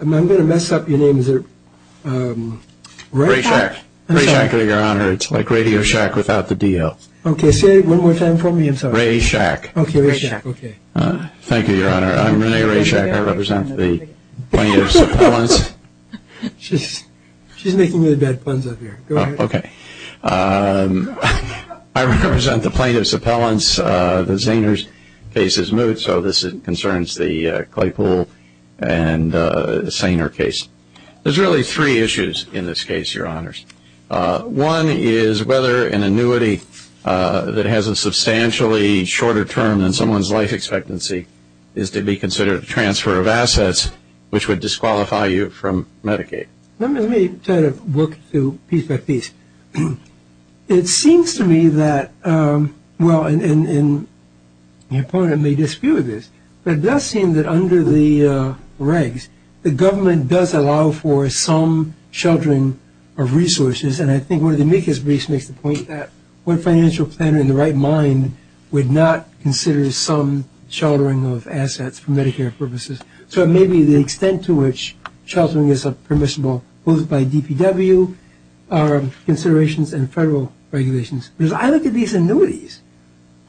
I'm going to mess up your name. Is it Ray Shack? Ray Shack, Your Honor. It's like Radio Shack without the DL. Okay. Say it one more time for me. I'm sorry. Ray Shack. Okay. Ray Shack. Thank you, Your Honor. I'm Rene Ray Shack. I represent the plaintiffs' appellants. She's making really bad puns up here. Go ahead. Okay. I represent the plaintiffs' appellants. The Zahner case is moot, so this concerns the Claypool and Zahner case. There's really three issues in this case, Your Honors. One is whether an annuity that has a substantially shorter term than someone's life expectancy is to be considered a transfer of assets, which would disqualify you from Medicaid. Let me try to work through piece by piece. It seems to me that, well, and the opponent may dispute this, but it does seem that under the regs, the government does allow for some sheltering of resources, and I think one of the amicus briefs makes the point that one financial planner in the right mind would not consider some sheltering of assets for Medicare purposes. So maybe the extent to which sheltering is permissible both by DPW considerations and federal regulations. Because I look at these annuities.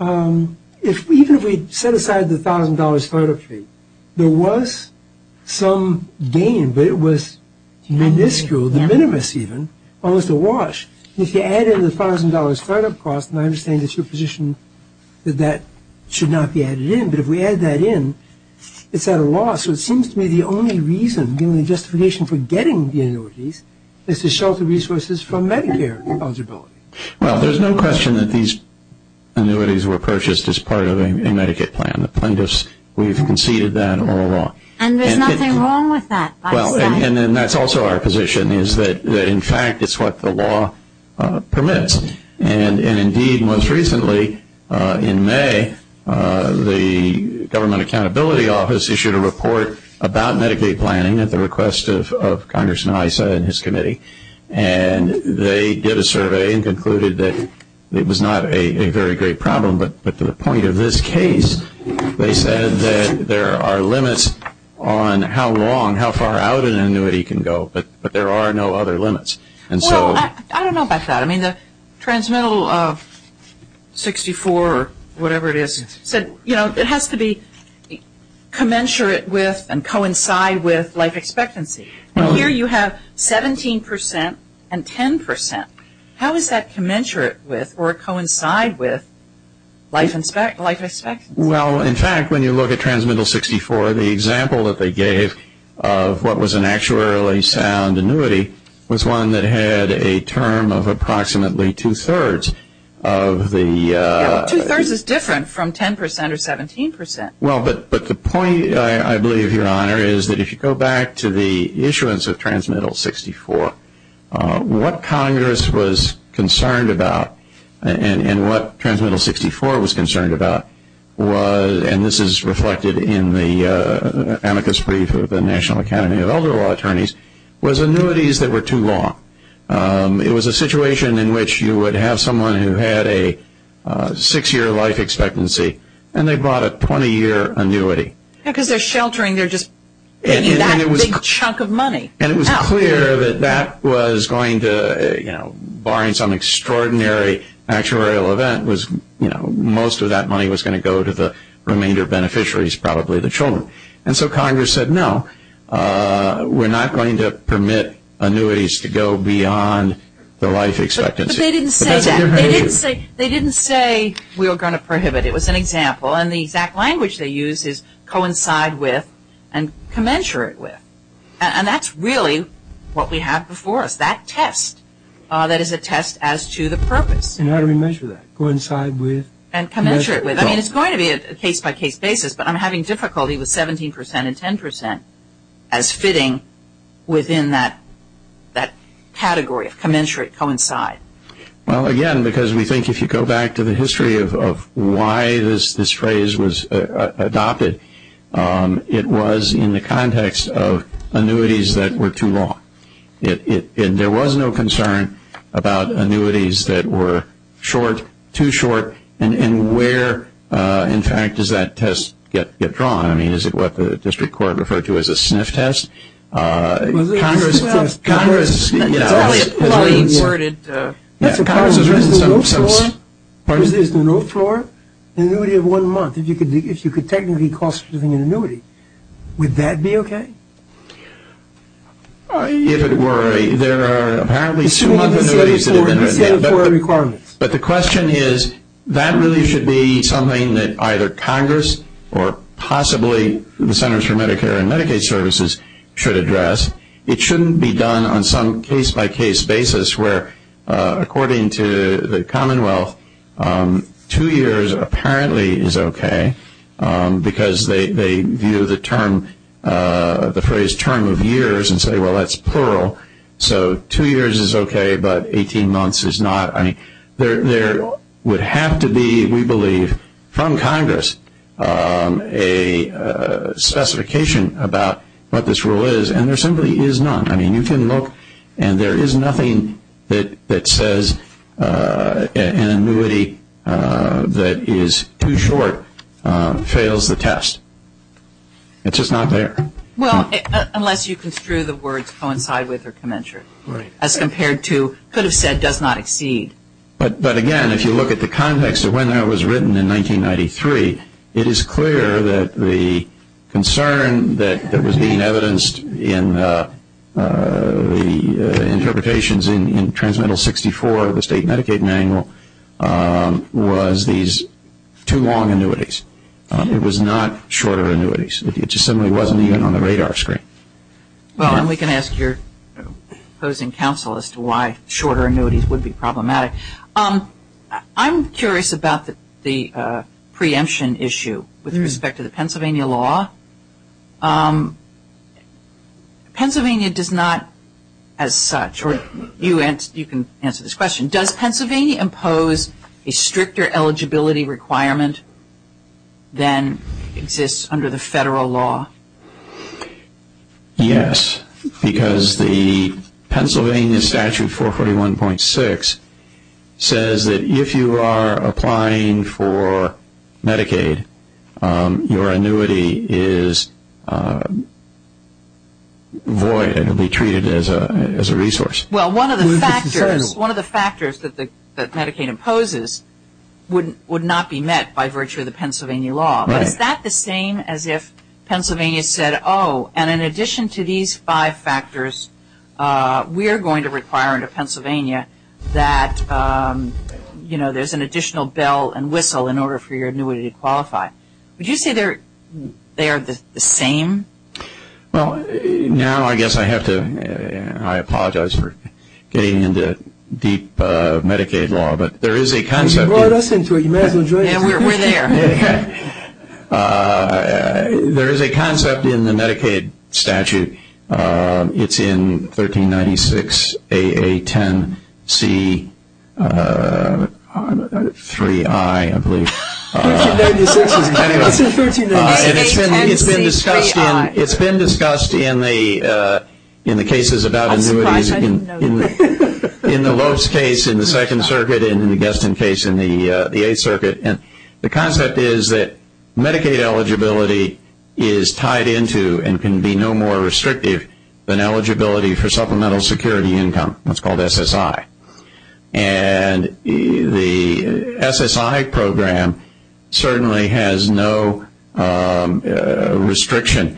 Even if we set aside the $1,000 startup fee, there was some gain, but it was minuscule, de minimis even, almost a wash. If you add in the $1,000 startup cost, and I understand it's your position that that should not be added in, but if we add that in, it's out of law. So it seems to me the only reason, given the justification for getting the annuities, is to shelter resources from Medicare eligibility. Well, there's no question that these annuities were purchased as part of a Medicaid plan. The plaintiffs, we've conceded that on the law. And there's nothing wrong with that, by the way. And that's also our position is that, in fact, it's what the law permits. And, indeed, most recently in May, the Government Accountability Office issued a report about Medicaid planning at the request of Congressman Issa and his committee. And they did a survey and concluded that it was not a very great problem. But to the point of this case, they said that there are limits on how long, how far out an annuity can go. But there are no other limits. Well, I don't know about that. I mean, the transmittal of 64 or whatever it is said, you know, it has to be commensurate with and coincide with life expectancy. And here you have 17 percent and 10 percent. How is that commensurate with or coincide with life expectancy? Well, in fact, when you look at transmittal 64, the example that they gave of what was an actuarially sound annuity was one that had a term of approximately two-thirds of the... Two-thirds is different from 10 percent or 17 percent. Well, but the point, I believe, Your Honor, is that if you go back to the issuance of transmittal 64, what Congress was concerned about and what transmittal 64 was concerned about was, and this is reflected in the amicus brief of the National Academy of Elder Law Attorneys, was annuities that were too long. It was a situation in which you would have someone who had a six-year life expectancy and they brought a 20-year annuity. Yeah, because they're sheltering. They're just getting that big chunk of money out. And it was clear that that was going to, you know, barring some extraordinary actuarial event, that was, you know, most of that money was going to go to the remainder beneficiaries, probably the children. And so Congress said, no, we're not going to permit annuities to go beyond the life expectancy. But they didn't say that. They didn't say we were going to prohibit. It was an example, and the exact language they used is coincide with and commensurate with. And that's really what we have before us, that test. That is a test as to the purpose. And how do we measure that? Coincide with? And commensurate with. I mean, it's going to be a case-by-case basis, but I'm having difficulty with 17 percent and 10 percent as fitting within that category of commensurate, coincide. Well, again, because we think if you go back to the history of why this phrase was adopted, it was in the context of annuities that were too long. And there was no concern about annuities that were short, too short. And where, in fact, does that test get drawn? I mean, is it what the district court referred to as a sniff test? Congress, you know. Well, it's probably afforded. Yeah, Congress has raised it in some sense. Part of it is the roof floor, an annuity of one month. If you could technically cost an annuity, would that be okay? If it were, there are apparently two months of annuities. But the question is, that really should be something that either Congress or possibly the Centers for Medicare and Medicaid Services should address. It shouldn't be done on some case-by-case basis where, according to the Commonwealth, two years apparently is okay because they view the phrase term of years and say, well, that's plural. So two years is okay, but 18 months is not. I mean, there would have to be, we believe, from Congress a specification about what this rule is, and there simply is none. I mean, you can look and there is nothing that says an annuity that is too short fails the test. It's just not there. Well, unless you construe the words coincide with or commensurate as compared to could have said does not exceed. But, again, if you look at the context of when that was written in 1993, it is clear that the concern that was being evidenced in the interpretations in Transmental 64 of the state Medicaid manual was these two long annuities. It was not shorter annuities. It just simply wasn't even on the radar screen. Well, and we can ask your opposing counsel as to why shorter annuities would be problematic. I'm curious about the preemption issue with respect to the Pennsylvania law. Pennsylvania does not, as such, or you can answer this question, does Pennsylvania impose a stricter eligibility requirement than exists under the federal law? Yes, because the Pennsylvania Statute 441.6 says that if you are applying for Medicaid, your annuity is void and will be treated as a resource. Well, one of the factors that Medicaid imposes would not be met by virtue of the Pennsylvania law. But is that the same as if Pennsylvania said, oh, and in addition to these five factors, we are going to require under Pennsylvania that, you know, there's an additional bell and whistle in order for your annuity to qualify. Would you say they are the same? Well, now I guess I have to, I apologize for getting into deep Medicaid law, but there is a concept. You brought us into it. You may as well join us. Yeah, we're there. There is a concept in the Medicaid statute. It's in 1396A10C3I, I believe. 1396 is Medicaid. It's in 1396A10C3I. And it's been discussed in the cases about annuities. I'm surprised I didn't know that. In the Lopes case in the Second Circuit and in the Guestin case in the Eighth Circuit, the concept is that Medicaid eligibility is tied into and can be no more restrictive than eligibility for supplemental security income. That's called SSI. And the SSI program certainly has no restriction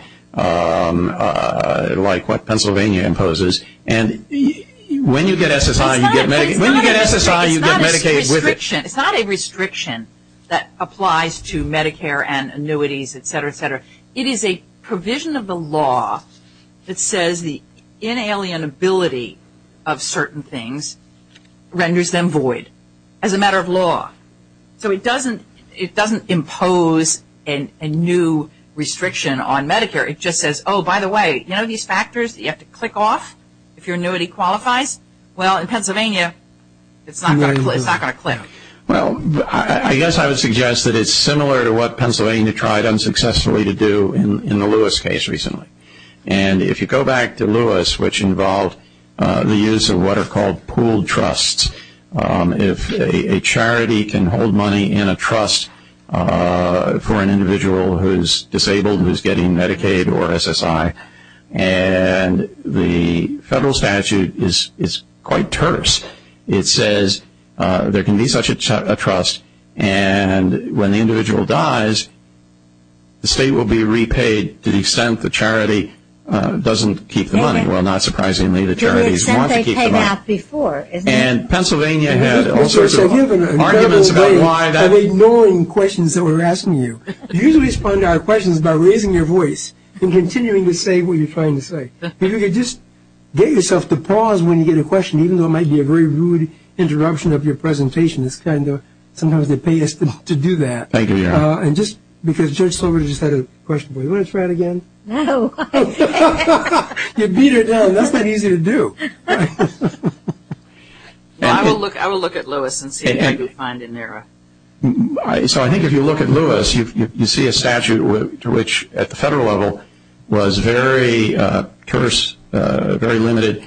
like what Pennsylvania imposes. And when you get SSI, you get Medicaid. When you get SSI, you get Medicaid with it. It's not a restriction that applies to Medicare and annuities, et cetera, et cetera. It is a provision of the law that says the inalienability of certain things renders them void as a matter of law. So it doesn't impose a new restriction on Medicare. It just says, oh, by the way, you know these factors that you have to click off if your annuity qualifies? Well, in Pennsylvania, it's not going to click. Well, I guess I would suggest that it's similar to what Pennsylvania tried unsuccessfully to do in the Lewis case recently. And if you go back to Lewis, which involved the use of what are called pooled trusts, if a charity can hold money in a trust for an individual who is disabled and who is getting Medicaid or SSI, and the federal statute is quite terse. It says there can be such a trust, and when the individual dies, the state will be repaid to the extent the charity doesn't keep the money. Well, not surprisingly, the charities want to keep the money. And Pennsylvania had all sorts of arguments about why that was. You're ignoring questions that we're asking you. You usually respond to our questions by raising your voice and continuing to say what you're trying to say. Maybe you could just get yourself to pause when you get a question, even though it might be a very rude interruption of your presentation. It's kind of sometimes they pay us to do that. Thank you, Your Honor. And just because Judge Slover just had a question for you. Do you want to try it again? No. You beat her down. That's not easy to do. I will look at Lewis and see what I can find in there. So I think if you look at Lewis, you see a statute to which at the federal level was very terse, very limited,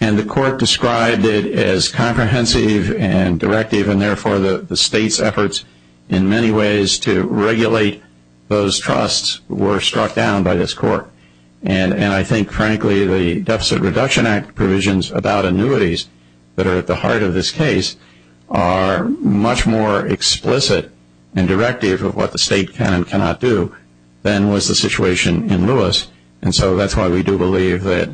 and the court described it as comprehensive and directive, and therefore the state's efforts in many ways to regulate those trusts were struck down by this court. And I think, frankly, the Deficit Reduction Act provisions about annuities that are at the heart of this case are much more explicit and directive of what the state can and cannot do than was the situation in Lewis. And so that's why we do believe that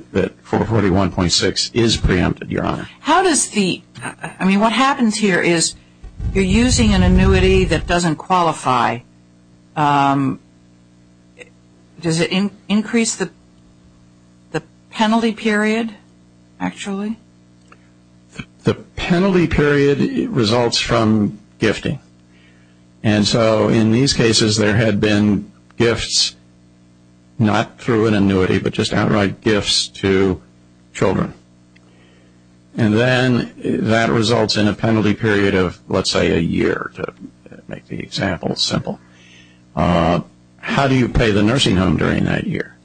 441.6 is preempted, Your Honor. How does the ‑‑ I mean, what happens here is you're using an annuity that doesn't qualify. Does it increase the penalty period, actually? The penalty period results from gifting. And so in these cases, there had been gifts, not through an annuity, but just outright gifts to children. And then that results in a penalty period of, let's say, a year, to make the example simple. How do you pay the nursing home during that year?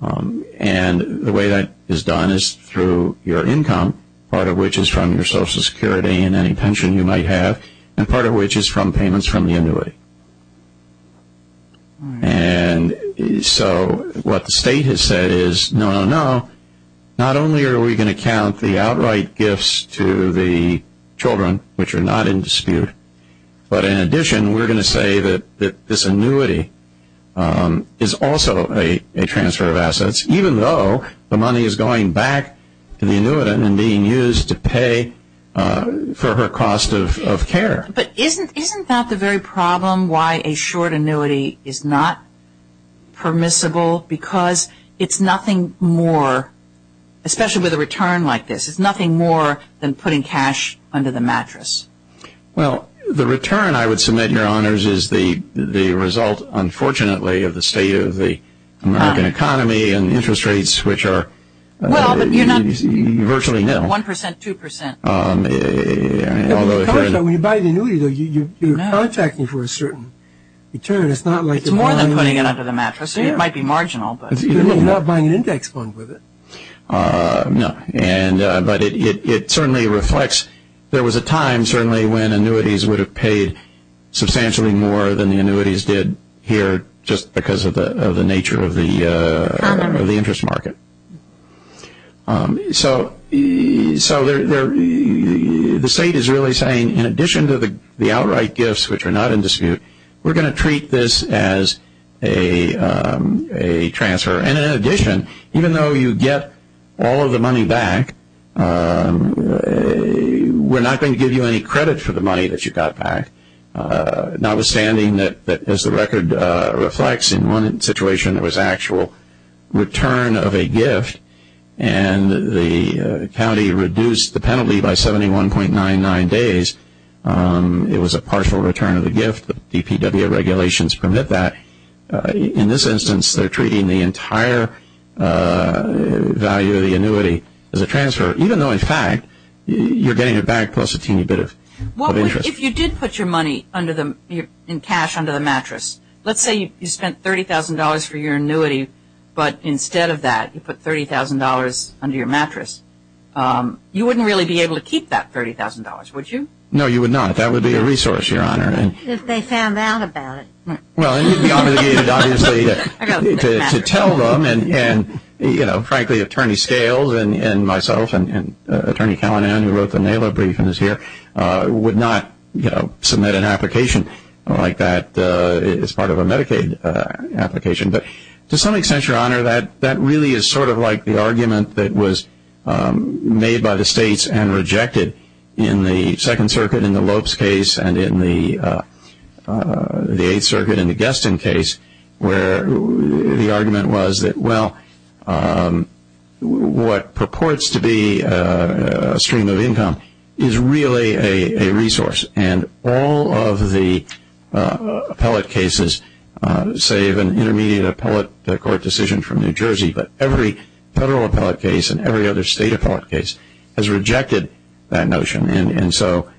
And the way that is done is through your income, part of which is from your Social Security and any pension you might have, and part of which is from payments from the annuity. And so what the state has said is, no, no, no. Not only are we going to count the outright gifts to the children, which are not in dispute, but in addition, we're going to say that this annuity is also a transfer of assets, even though the money is going back to the annuitant and being used to pay for her cost of care. But isn't that the very problem, why a short annuity is not permissible? Because it's nothing more, especially with a return like this, it's nothing more than putting cash under the mattress. Well, the return, I would submit, Your Honors, is the result, unfortunately, of the state of the American economy and interest rates, which are virtually nil. One percent, two percent. When you buy an annuity, though, you're contacting for a certain return. It's not like you're buying an index fund with it. No. But it certainly reflects, there was a time, certainly, when annuities would have paid substantially more than the annuities did here, just because of the nature of the interest market. So the state is really saying, in addition to the outright gifts, which are not in dispute, we're going to treat this as a transfer. And in addition, even though you get all of the money back, we're not going to give you any credit for the money that you got back, notwithstanding that, as the record reflects, in one situation there was actual return of a gift, and the county reduced the penalty by 71.99 days. It was a partial return of the gift. The DPWA regulations permit that. In this instance, they're treating the entire value of the annuity as a transfer, even though, in fact, you're getting it back plus a teeny bit of interest. If you did put your money in cash under the mattress, let's say you spent $30,000 for your annuity, but instead of that you put $30,000 under your mattress, you wouldn't really be able to keep that $30,000, would you? No, you would not. That would be a resource, Your Honor. If they found out about it. Well, then you'd be obligated, obviously, to tell them. And, frankly, Attorney Scales and myself and Attorney Callanan, who wrote the NALA brief and is here, would not submit an application like that as part of a Medicaid application. But to some extent, Your Honor, that really is sort of like the argument that was made by the states and rejected in the Second Circuit in the Lopes case and in the Eighth Circuit in the Guestin case, where the argument was that, well, what purports to be a stream of income is really a resource. And all of the appellate cases, save an intermediate appellate court decision from New Jersey, but every federal appellate case and every other state appellate case has rejected that notion. And so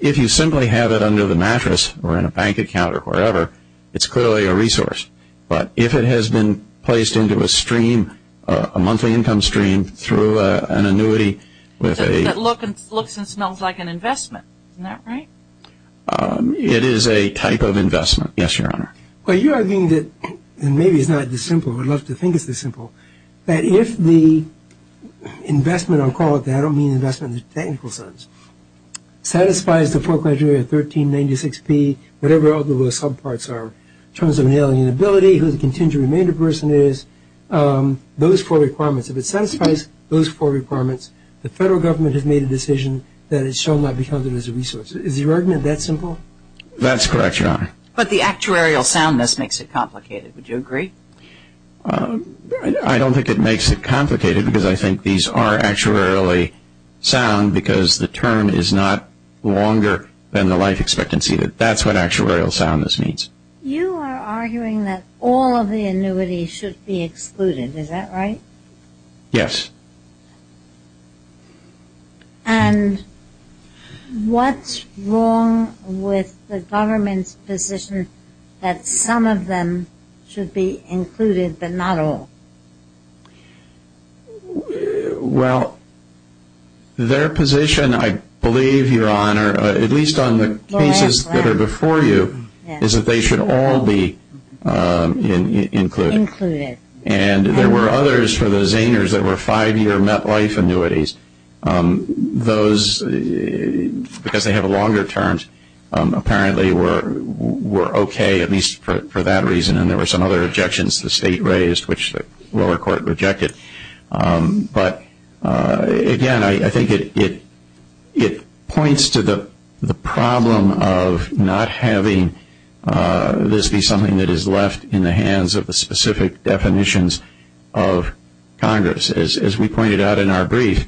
if you simply have it under the mattress or in a bank account or wherever, it's clearly a resource. But if it has been placed into a stream, a monthly income stream through an annuity with a- That looks and smells like an investment. Isn't that right? It is a type of investment, yes, Your Honor. Well, you're arguing that, and maybe it's not this simple, but I'd love to think it's this simple, that if the investment, I'll call it that, I don't mean investment in the technical sense, satisfies the foreclosure of 1396P, whatever all those subparts are, in terms of an alien ability, who the contingent remainder person is, those four requirements. If it satisfies those four requirements, the federal government has made a decision that it shall not be counted as a resource. Is your argument that simple? That's correct, Your Honor. But the actuarial soundness makes it complicated. Would you agree? I don't think it makes it complicated because I think these are actuarially sound because the term is not longer than the life expectancy. That's what actuarial soundness means. You are arguing that all of the annuities should be excluded. Is that right? Yes. And what's wrong with the government's position that some of them should be included but not all? Well, their position, I believe, Your Honor, at least on the cases that are before you, is that they should all be included. Included. And there were others for the Zaners that were five-year met life annuities. Those, because they have longer terms, apparently were okay, at least for that reason, and there were some other objections the state raised which the lower court rejected. But, again, I think it points to the problem of not having this be something that is left in the hands of the specific definitions of Congress. As we pointed out in our brief,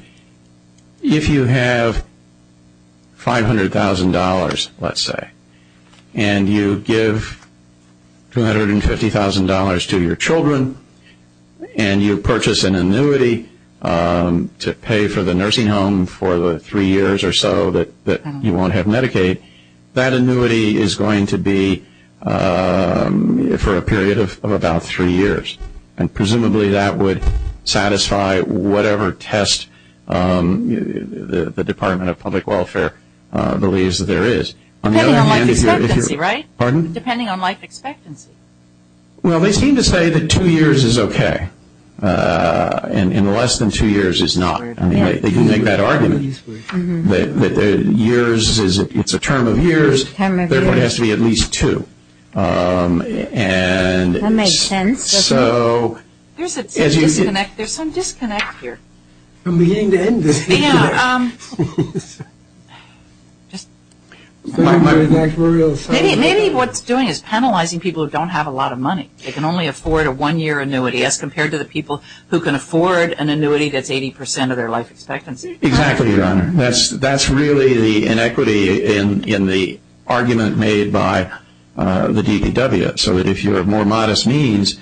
if you have $500,000, let's say, and you give $250,000 to your children and you purchase an annuity to pay for the nursing home for the three years or so that you won't have Medicaid, that annuity is going to be for a period of about three years. And presumably that would satisfy whatever test the Department of Public Welfare believes there is. Depending on life expectancy, right? Pardon? Depending on life expectancy. Well, they seem to say that two years is okay, and less than two years is not. They can make that argument that years, it's a term of years, there has to be at least two. That makes sense. There is some disconnect here. I'm beginning to end this. Maybe what it's doing is penalizing people who don't have a lot of money. They can only afford a one-year annuity as compared to the people who can afford an annuity that's 80% of their life expectancy. Exactly, Your Honor. That's really the inequity in the argument made by the DDW. So if you have more modest means,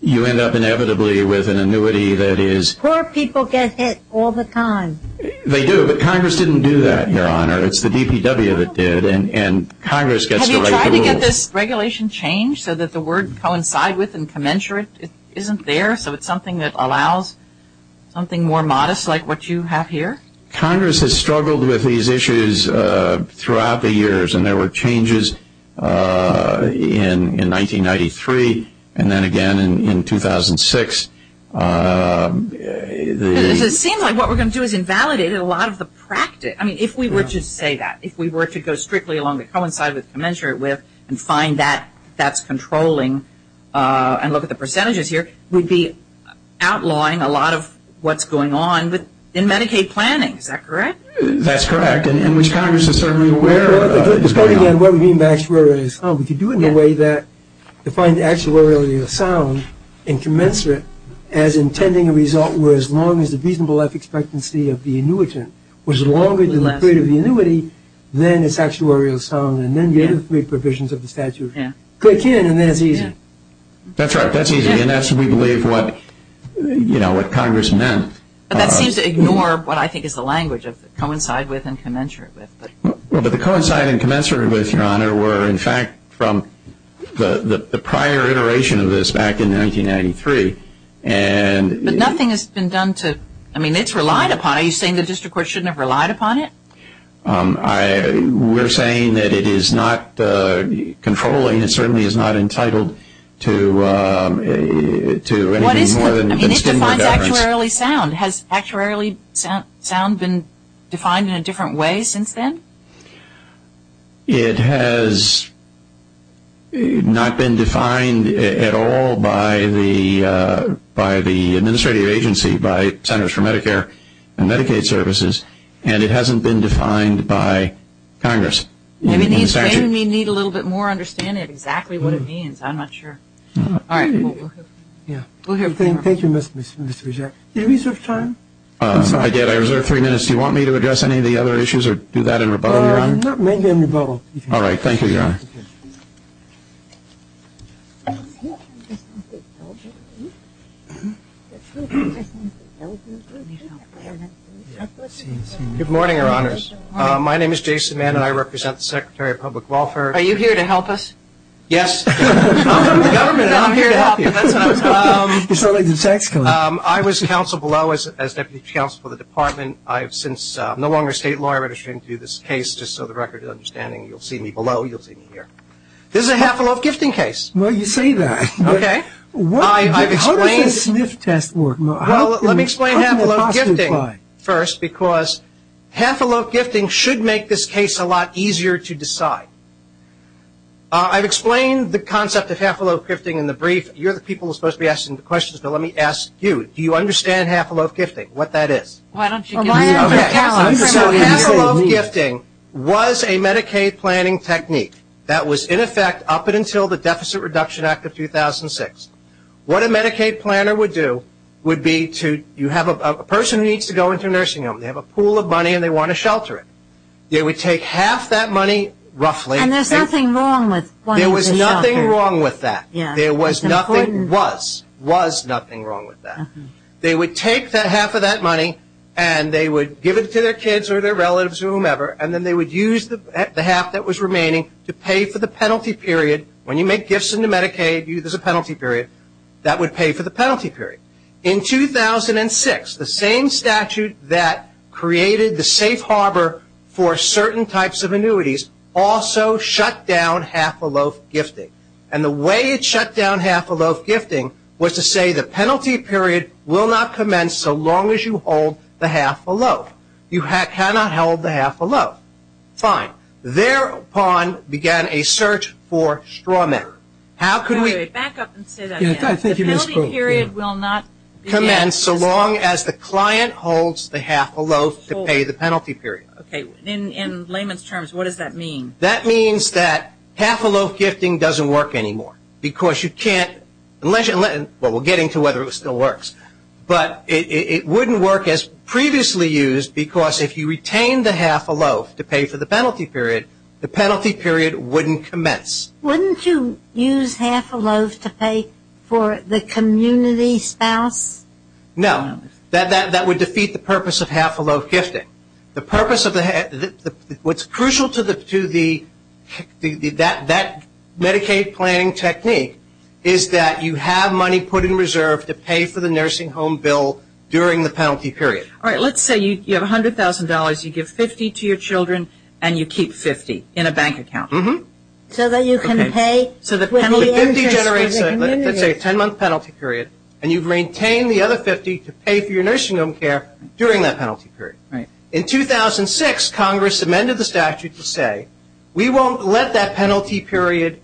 you end up inevitably with an annuity that is... Poor people get hit all the time. They do, but Congress didn't do that, Your Honor. It's the DPW that did, and Congress gets to write the rules. Have you tried to get this regulation changed so that the word coincide with and commensurate isn't there, so it's something that allows something more modest like what you have here? Congress has struggled with these issues throughout the years, and there were changes in 1993 and then again in 2006. It seems like what we're going to do is invalidate a lot of the practice. I mean, if we were to say that, if we were to go strictly along the coincide with, commensurate with, and find that that's controlling and look at the percentages here, we'd be outlawing a lot of what's going on in Medicaid planning. Is that correct? That's correct, and which Congress is certainly aware of. Again, what we mean by actuarial sound, we could do it in a way that defined actuarial sound and commensurate as intending a result where as long as the reasonable life expectancy of the annuitant was longer than the period of the annuity, then it's actuarial sound, and then the other three provisions of the statute click in, and then it's easy. That's right. That's easy, and that's, we believe, what Congress meant. But that seems to ignore what I think is the language of coincide with and commensurate with. Well, but the coincide and commensurate with, Your Honor, were in fact from the prior iteration of this back in 1993. But nothing has been done to, I mean, it's relied upon. Are you saying the district court shouldn't have relied upon it? We're saying that it is not controlling. It certainly is not entitled to anything more than the standard deference. It defines actuarially sound. Has actuarially sound been defined in a different way since then? It has not been defined at all by the administrative agency, by Centers for Medicare and Medicaid Services, and it hasn't been defined by Congress. Maybe they need a little bit more understanding of exactly what it means. I'm not sure. All right. We'll have time. Thank you, Mr. Regev. Did you reserve time? I did. I reserved three minutes. Do you want me to address any of the other issues or do that in rebuttal, Your Honor? Maybe in rebuttal. All right. Thank you, Your Honor. Good morning, Your Honors. My name is Jason Mann, and I represent the Secretary of Public Welfare. Are you here to help us? Yes. I'm from the government, and I'm here to help you. That's what I was going to say. I was counsel below as Deputy Counsel for the Department. I have since no longer a state lawyer registering to do this case, just so the record is understanding. You'll see me below. You'll see me here. This is a half-a-loaf gifting case. Well, you say that. Okay. How does a sniff test work? Let me explain half-a-loaf gifting first, because half-a-loaf gifting should make this case a lot easier to decide. I've explained the concept of half-a-loaf gifting in the brief. You're the people who are supposed to be asking the questions, but let me ask you. Do you understand half-a-loaf gifting, what that is? Why don't you give me a callus? Half-a-loaf gifting was a Medicaid planning technique. That was, in effect, up until the Deficit Reduction Act of 2006. What a Medicaid planner would do would be to you have a person who needs to go into a nursing home. They have a pool of money, and they want to shelter it. They would take half that money roughly. And there's nothing wrong with wanting to shelter. There was nothing wrong with that. There was nothing wrong with that. They would take half of that money, and they would give it to their kids or their relatives or whomever, and then they would use the half that was remaining to pay for the penalty period. When you make gifts into Medicaid, there's a penalty period. That would pay for the penalty period. In 2006, the same statute that created the safe harbor for certain types of annuities also shut down half-a-loaf gifting. And the way it shut down half-a-loaf gifting was to say the penalty period will not commence so long as you hold the half-a-loaf. You cannot hold the half-a-loaf. Fine. Thereupon began a search for straw men. How could we? Back up and say that again. The penalty period will not commence so long as the client holds the half-a-loaf to pay the penalty period. Okay. In layman's terms, what does that mean? That means that half-a-loaf gifting doesn't work anymore because you can't – well, we'll get into whether it still works. But it wouldn't work as previously used because if you retained the half-a-loaf to pay for the penalty period, the penalty period wouldn't commence. Wouldn't you use half-a-loaf to pay for the community spouse? No. That would defeat the purpose of half-a-loaf gifting. The purpose of the – what's crucial to the – that Medicaid planning technique is that you have money put in reserve to pay for the nursing home bill during the penalty period. All right. Let's say you have $100,000. You give 50 to your children and you keep 50 in a bank account. Mm-hmm. So that you can pay – So the penalty generates, let's say, a 10-month penalty period, and you've maintained the other 50 to pay for your nursing home care during that penalty period. Right. In 2006, Congress amended the statute to say we won't let that penalty period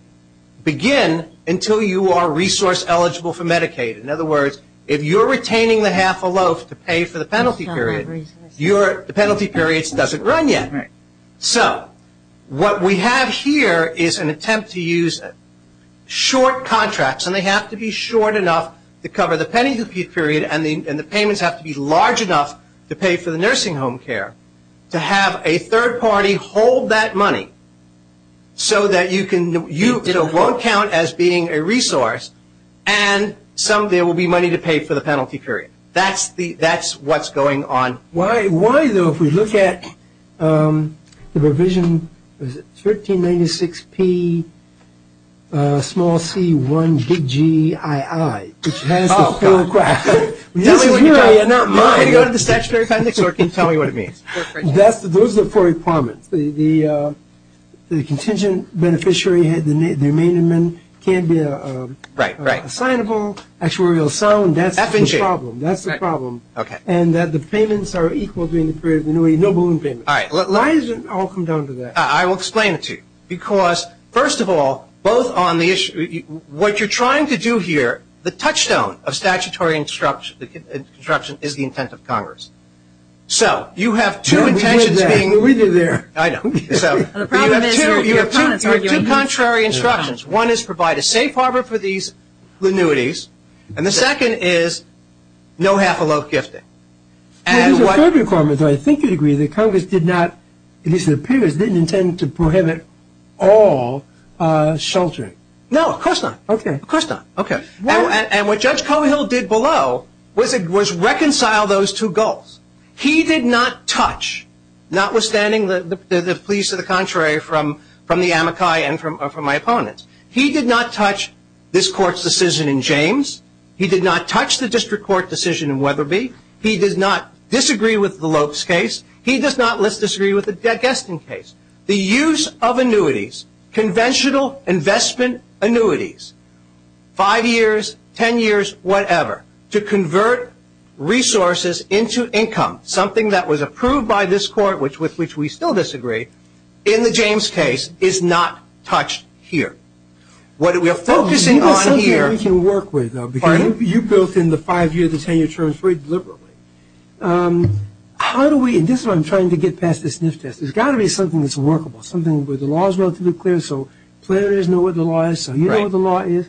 begin until you are resource-eligible for Medicaid. In other words, if you're retaining the half-a-loaf to pay for the penalty period, the penalty period doesn't run yet. Right. So what we have here is an attempt to use short contracts, and they have to be short enough to cover the penalty period, and the payments have to be large enough to pay for the nursing home care, to have a third party hold that money so that you can – it won't count as being a resource, and someday there will be money to pay for the penalty period. That's what's going on. Why, though, if we look at the provision 1396Pc1Gii, which has the full – Oh, God. This is your area, not mine. I'm going to go to the statutory context so I can tell you what it means. Those are the four requirements. The contingent beneficiary, the remaining men can't be assignable, actuarial sound. F and G. That's the problem. That's the problem. Okay. And that the payments are equal during the period of annuity. No balloon payments. All right. Why is it – I'll come down to that. I will explain it to you because, first of all, both on the issue – what you're trying to do here, the touchstone of statutory instruction is the intent of Congress. So you have two intentions being – We did that. We did that. I know. So you have two contrary instructions. One is provide a safe harbor for these annuities, and the second is no half-a-loaf gifting. There is a third requirement, though I think you'd agree, that Congress did not – at least in the previous – didn't intend to prohibit all sheltering. No, of course not. Okay. Of course not. Okay. And what Judge Cohill did below was reconcile those two goals. He did not touch, notwithstanding the pleas to the contrary from the amici and from my opponents, he did not touch this Court's decision in James. He did not touch the district court decision in Weatherby. He did not disagree with the Lopes case. He does not, let's disagree, with the Geston case. The use of annuities, conventional investment annuities, five years, ten years, whatever, to convert resources into income, something that was approved by this Court, which with which we still disagree, in the James case is not touched here. What we are focusing on here – Well, you know something we can work with, though, because you built in the five-year, the ten-year terms very deliberately. How do we – and this is what I'm trying to get past this sniff test. There's got to be something that's workable, something where the law is relatively clear, so players know what the law is, so you know what the law is.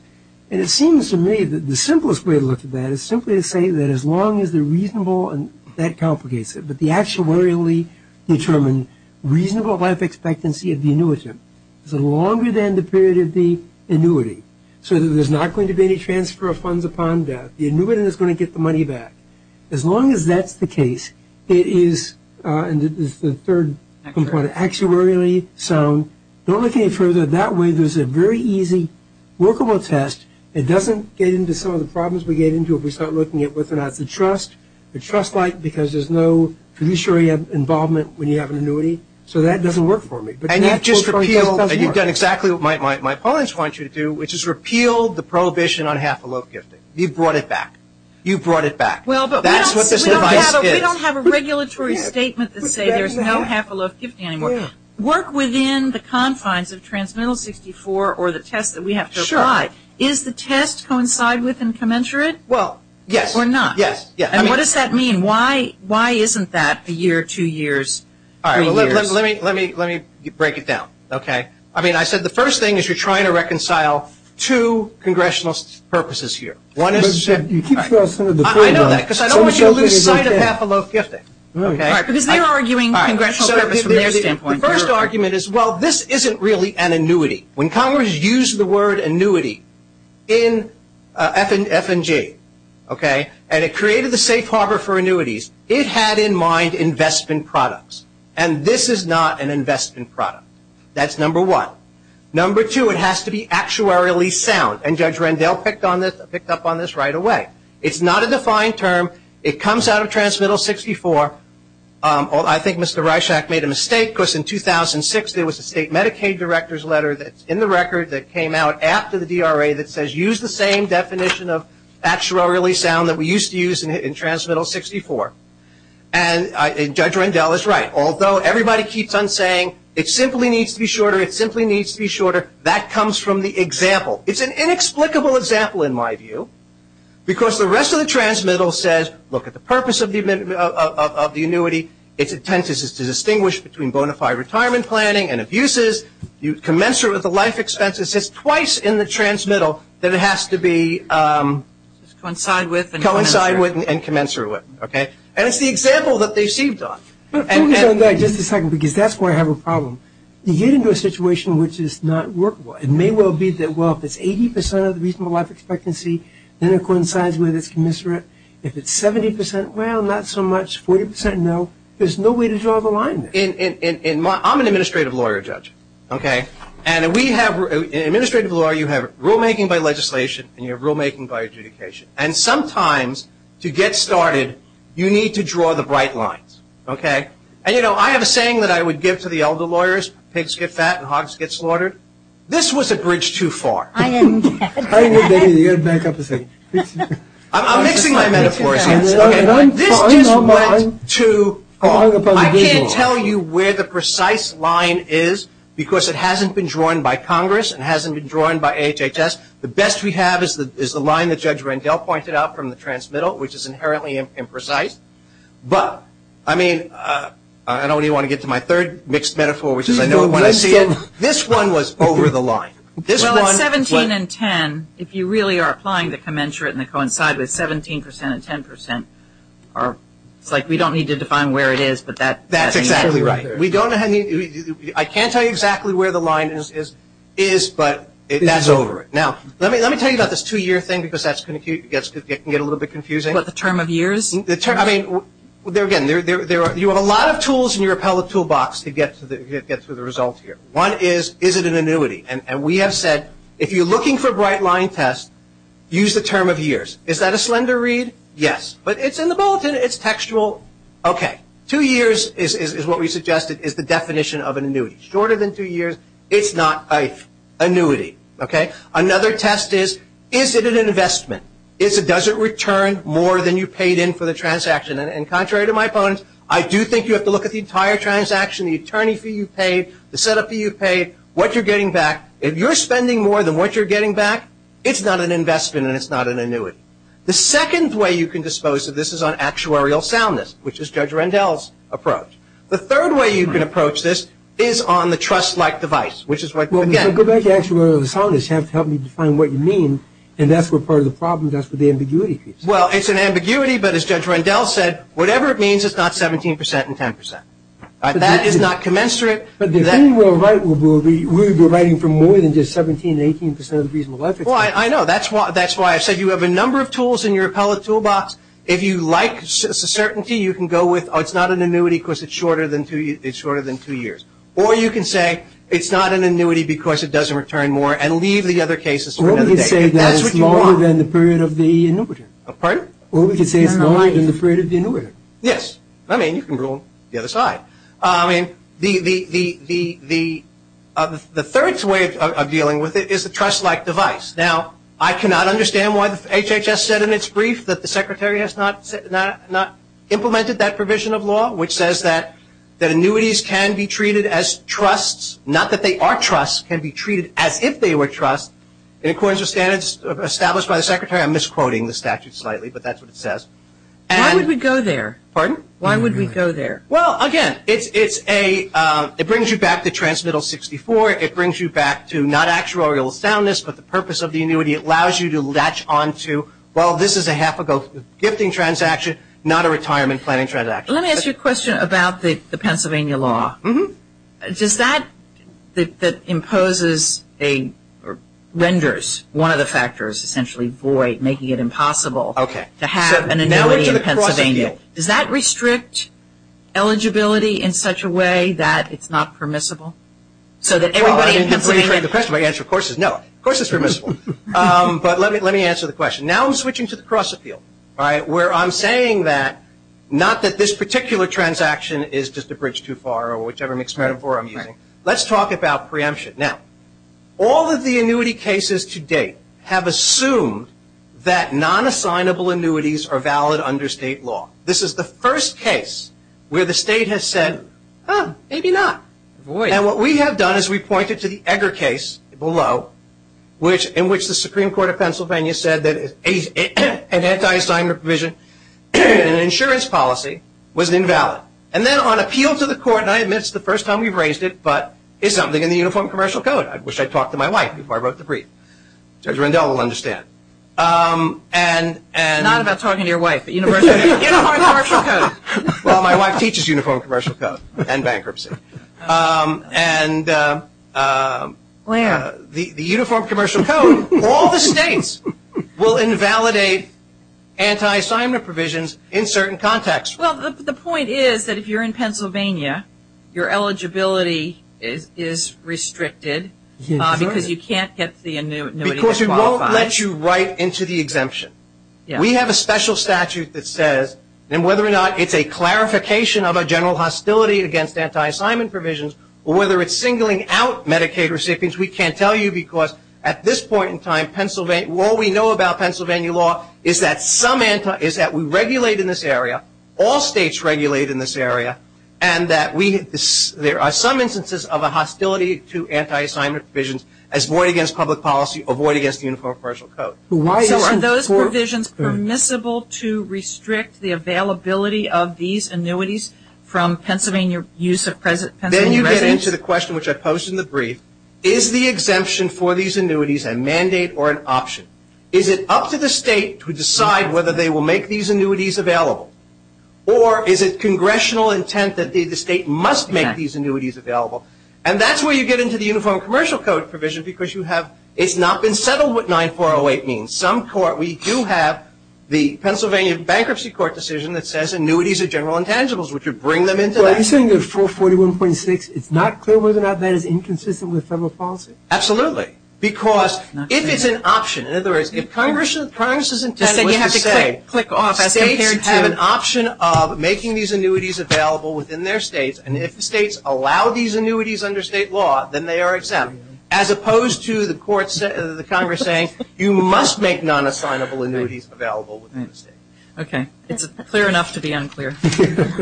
And it seems to me that the simplest way to look at that is simply to say that as long as they're reasonable, and that complicates it, but the actuarially determined reasonable life expectancy of the annuitant is longer than the period of the annuity. So there's not going to be any transfer of funds upon death. The annuitant is going to get the money back. As long as that's the case, it is – and this is the third component, actuarially sound. Don't look any further. That way there's a very easy workable test. It doesn't get into some of the problems we get into if we start looking at whether or not it's a trust, a trust like because there's no fiduciary involvement when you have an annuity. So that doesn't work for me. And you've just repealed – you've done exactly what my opponents want you to do, which is repeal the prohibition on half a loaf gifting. You've brought it back. You've brought it back. That's what this device is. We don't have a regulatory statement that says there's no half a loaf gifting anymore. Work within the confines of Transmittal 64 or the test that we have to apply. Is the test coincide with and commensurate? Well, yes. No, we're not. Yes, yes. And what does that mean? Why isn't that a year, two years, three years? Let me break it down. Okay. I mean, I said the first thing is you're trying to reconcile two congressional purposes here. One is – You keep throwing some of the blame on us. I know that because I don't want you to lose sight of half a loaf gifting. All right. The first argument is, well, this isn't really an annuity. When Congress used the word annuity in FNG, okay, and it created the safe harbor for annuities, it had in mind investment products. And this is not an investment product. That's number one. Number two, it has to be actuarially sound. And Judge Rendell picked up on this right away. It's not a defined term. It comes out of Transmittal 64. I think Mr. Reischach made a mistake because in 2006 there was a state Medicaid director's letter that's in the record that came out after the DRA that says use the same definition of actuarially sound that we used to use in Transmittal 64. And Judge Rendell is right. Although everybody keeps on saying it simply needs to be shorter, it simply needs to be shorter, that comes from the example. It's an inexplicable example in my view because the rest of the Transmittal says, look at the purpose of the annuity. Its intent is to distinguish between bona fide retirement planning and abuses. You commensurate with the life expenses. It's twice in the Transmittal that it has to be coincide with and commensurate with. And it's the example that they've sieved off. But focus on that just a second because that's where I have a problem. You get into a situation which is not workable. It may well be that, well, if it's 80% of the reasonable life expectancy, then it coincides with its commensurate. If it's 70%, well, not so much. 40%, no. There's no way to draw the line there. I'm an administrative lawyer, Judge. Okay? And we have – in administrative law you have rulemaking by legislation and you have rulemaking by adjudication. And sometimes to get started you need to draw the bright lines. Okay? And, you know, I have a saying that I would give to the elder lawyers, pigs get fat and hogs get slaughtered. This was a bridge too far. I'm mixing my metaphors. This just went too far. I can't tell you where the precise line is because it hasn't been drawn by Congress and hasn't been drawn by HHS. The best we have is the line that Judge Rendell pointed out from the transmittal, which is inherently imprecise. But, I mean, I only want to get to my third mixed metaphor, which is I know it when I see it. This one was over the line. Well, at 17 and 10, if you really are applying the commensurate and they coincide with 17% and 10%, it's like we don't need to define where it is. That's exactly right. I can't tell you exactly where the line is, but that's over it. Now, let me tell you about this two-year thing because it can get a little bit confusing. What, the term of years? Again, you have a lot of tools in your appellate toolbox to get to the results here. One is, is it an annuity? And we have said if you're looking for a bright line test, use the term of years. Is that a slender read? Yes. But it's in the bulletin. It's textual. Okay. Two years is what we suggested is the definition of an annuity. Shorter than two years, it's not an annuity. Another test is, is it an investment? Does it return more than you paid in for the transaction? And contrary to my opponents, I do think you have to look at the entire transaction, the attorney fee you paid, the set-up fee you paid, what you're getting back. If you're spending more than what you're getting back, it's not an investment and it's not an annuity. The second way you can dispose of this is on actuarial soundness, which is Judge Rendell's approach. The third way you can approach this is on the trust-like device, which is what you get. Well, go back to actuarial soundness. You have to help me define what you mean, and that's where part of the problem is, that's where the ambiguity is. Well, it's an ambiguity, but as Judge Rendell said, whatever it means, it's not 17 percent and 10 percent. That is not commensurate. But the thing we'll write, we'll be writing for more than just 17 and 18 percent of the reasonable life expectancy. Well, I know. That's why I said you have a number of tools in your appellate toolbox. If you like certainty, you can go with, oh, it's not an annuity because it's shorter than two years. Or you can say it's not an annuity because it doesn't return more and leave the other cases for another day. Or we can say that it's longer than the period of the annuity. Pardon? Or we can say it's longer than the period of the annuity. Yes. I mean, you can rule the other side. I mean, the third way of dealing with it is a trust-like device. Now, I cannot understand why HHS said in its brief that the Secretary has not implemented that provision of law, which says that annuities can be treated as trusts, not that they are trusts, can be treated as if they were trusts, in accordance with standards established by the Secretary. I'm misquoting the statute slightly, but that's what it says. Why would we go there? Pardon? Why would we go there? Well, again, it brings you back to transmittal 64. It brings you back to not actuarial soundness, but the purpose of the annuity. It allows you to latch onto, well, this is a half-ago gifting transaction, not a retirement planning transaction. Let me ask you a question about the Pennsylvania law. Does that that imposes or renders one of the factors essentially void, making it impossible to have an annuity in Pennsylvania, does that restrict eligibility in such a way that it's not permissible? So that everybody in Pennsylvania. Well, I didn't hear the question. My answer, of course, is no. Of course it's permissible. But let me answer the question. Now I'm switching to the cross-appeal, where I'm saying that not that this particular transaction is just a bridge too far or whichever mix metaphor I'm using. Let's talk about preemption. Now, all of the annuity cases to date have assumed that non-assignable annuities are valid under state law. This is the first case where the state has said, oh, maybe not. And what we have done is we pointed to the Egger case below, in which the Supreme Court of Pennsylvania said that an anti-assignment provision in an insurance policy was invalid. And then on appeal to the court, and I admit it's the first time we've raised it, but it's something in the Uniform Commercial Code. I wish I'd talked to my wife before I wrote the brief. Judge Rendell will understand. Not about talking to your wife, but Uniform Commercial Code. Well, my wife teaches Uniform Commercial Code and bankruptcy. The Uniform Commercial Code, all the states will invalidate anti-assignment provisions in certain contexts. Well, the point is that if you're in Pennsylvania, your eligibility is restricted because you can't get the annuity that qualifies. Because we won't let you write into the exemption. We have a special statute that says, and whether or not it's a clarification of a general hostility against anti-assignment provisions or whether it's singling out Medicaid recipients, we can't tell you because at this point in time, all we know about Pennsylvania law is that we regulate in this area, all states regulate in this area, and that there are some instances of a hostility to anti-assignment provisions as void against public policy or void against the Uniform Commercial Code. So are those provisions permissible to restrict the availability of these annuities from Pennsylvania residents? Then you get into the question which I posed in the brief. Is the exemption for these annuities a mandate or an option? Is it up to the state to decide whether they will make these annuities available? Or is it congressional intent that the state must make these annuities available? And that's where you get into the Uniform Commercial Code provision because you have – it's not been settled what 9408 means. Some court – we do have the Pennsylvania Bankruptcy Court decision that says annuities are general intangibles. Would you bring them into that? Well, are you saying that 441.6, it's not clear whether or not that is inconsistent with federal policy? Absolutely. Because if it's an option, in other words, if Congress's intent was to say states have an option of making these annuities available within their states, and if the states allow these annuities under state law, then they are exempt, as opposed to the Congress saying you must make non-assignable annuities available within the state. Okay. It's clear enough to be unclear. Thank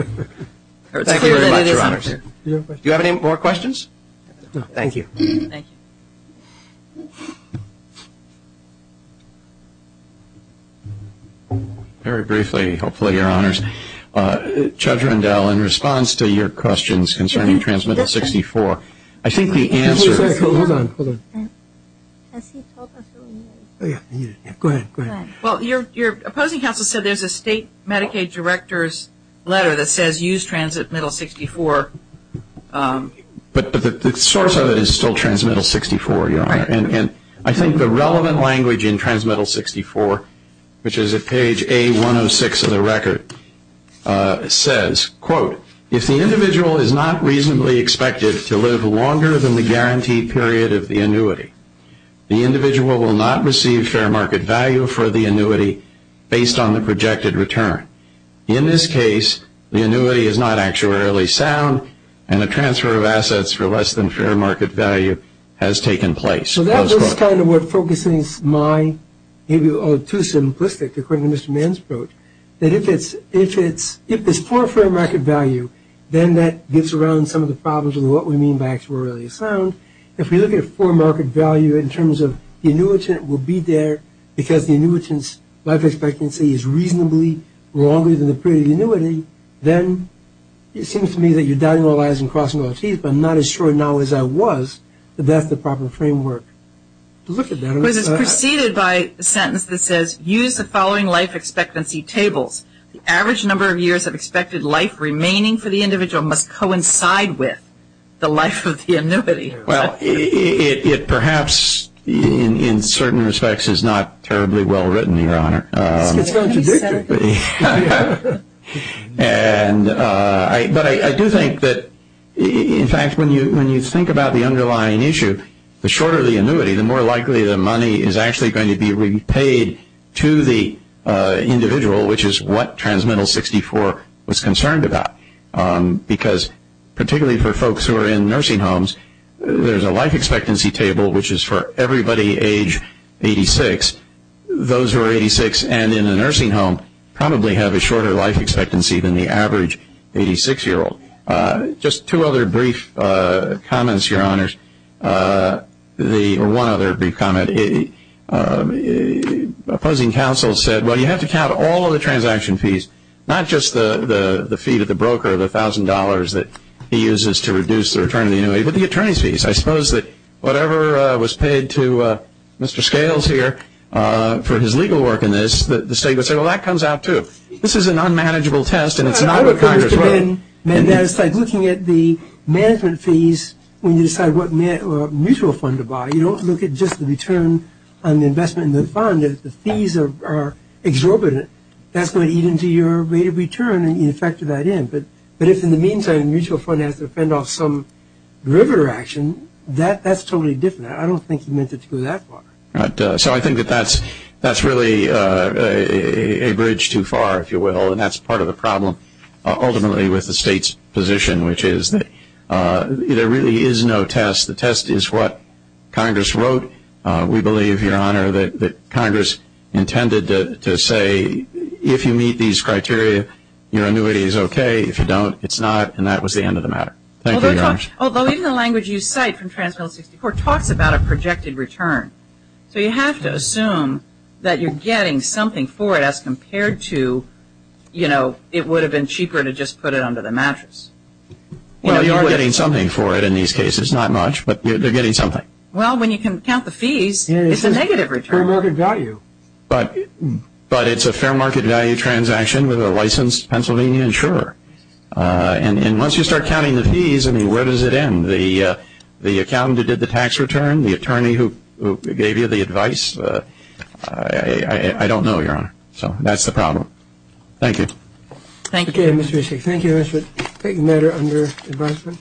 you very much, Your Honors. Do you have any more questions? No. Thank you. Thank you. Very briefly, hopefully, Your Honors. Judge Rendell, in response to your questions concerning Transmittal 64, I think the answer is – Hold on. Hold on. Has he told us who he is? Go ahead. Go ahead. Well, your opposing counsel said there's a state Medicaid director's letter that says use Transmittal 64. But the source of it is still Transmittal 64, Your Honor. Right. And I think the relevant language in Transmittal 64, which is at page A106 of the record, says, quote, if the individual is not reasonably expected to live longer than the guaranteed period of the annuity, the individual will not receive fair market value for the annuity based on the projected return. In this case, the annuity is not actuarially sound, and a transfer of assets for less than fair market value has taken place. So that was kind of what focuses my – maybe too simplistic, according to Mr. Mann's approach, that if it's poor fair market value, then that gets around some of the problems with what we mean by actuarially sound. If we look at poor market value in terms of the annuitant will be there because the annuitant's life expectancy is reasonably longer than the period of the annuity, then it seems to me that you're doubting all eyes and crossing all teeth. But I'm not as sure now as I was that that's the proper framework. Look at that. It was preceded by a sentence that says, use the following life expectancy tables. The average number of years of expected life remaining for the individual must coincide with the life of the annuity. Well, it perhaps in certain respects is not terribly well written, Your Honor. It's going to be. But I do think that, in fact, when you think about the underlying issue, the shorter the annuity, the more likely the money is actually going to be repaid to the individual, which is what TransMittal 64 was concerned about. Because particularly for folks who are in nursing homes, there's a life expectancy table, which is for everybody age 86. Those who are 86 and in a nursing home probably have a shorter life expectancy than the average 86-year-old. Just two other brief comments, Your Honors, or one other brief comment. Opposing counsel said, well, you have to count all of the transaction fees, not just the fee to the broker of $1,000 that he uses to reduce the return of the annuity, but the attorney's fees. I suppose that whatever was paid to Mr. Scales here for his legal work in this, the state would say, well, that comes out too. This is an unmanageable test, and it's not what Congress wrote. And that's like looking at the management fees when you decide what mutual fund to buy. You don't look at just the return on the investment in the fund. The fees are exorbitant. That's going to eat into your rate of return, and you factor that in. But if in the meantime mutual fund has to fend off some derivative action, that's totally different. I don't think he meant it to go that far. So I think that that's really a bridge too far, if you will, and that's part of the problem ultimately with the state's position, which is that there really is no test. The test is what Congress wrote. We believe, Your Honor, that Congress intended to say if you meet these criteria, your annuity is okay. If you don't, it's not. And that was the end of the matter. Thank you, Your Honor. Although even the language you cite from Trans-Mil-64 talks about a projected return. So you have to assume that you're getting something for it as compared to, you know, it would have been cheaper to just put it under the mattress. Well, you are getting something for it in these cases, not much, but you're getting something. Well, when you can count the fees, it's a negative return. Fair market value. But it's a fair market value transaction with a licensed Pennsylvania insurer. And once you start counting the fees, I mean, where does it end? The accountant who did the tax return? The attorney who gave you the advice? I don't know, Your Honor. So that's the problem. Thank you. Thank you. Thank you, Mr. Hicks. Thank you, Mr. Hicks. Any matter under advisement?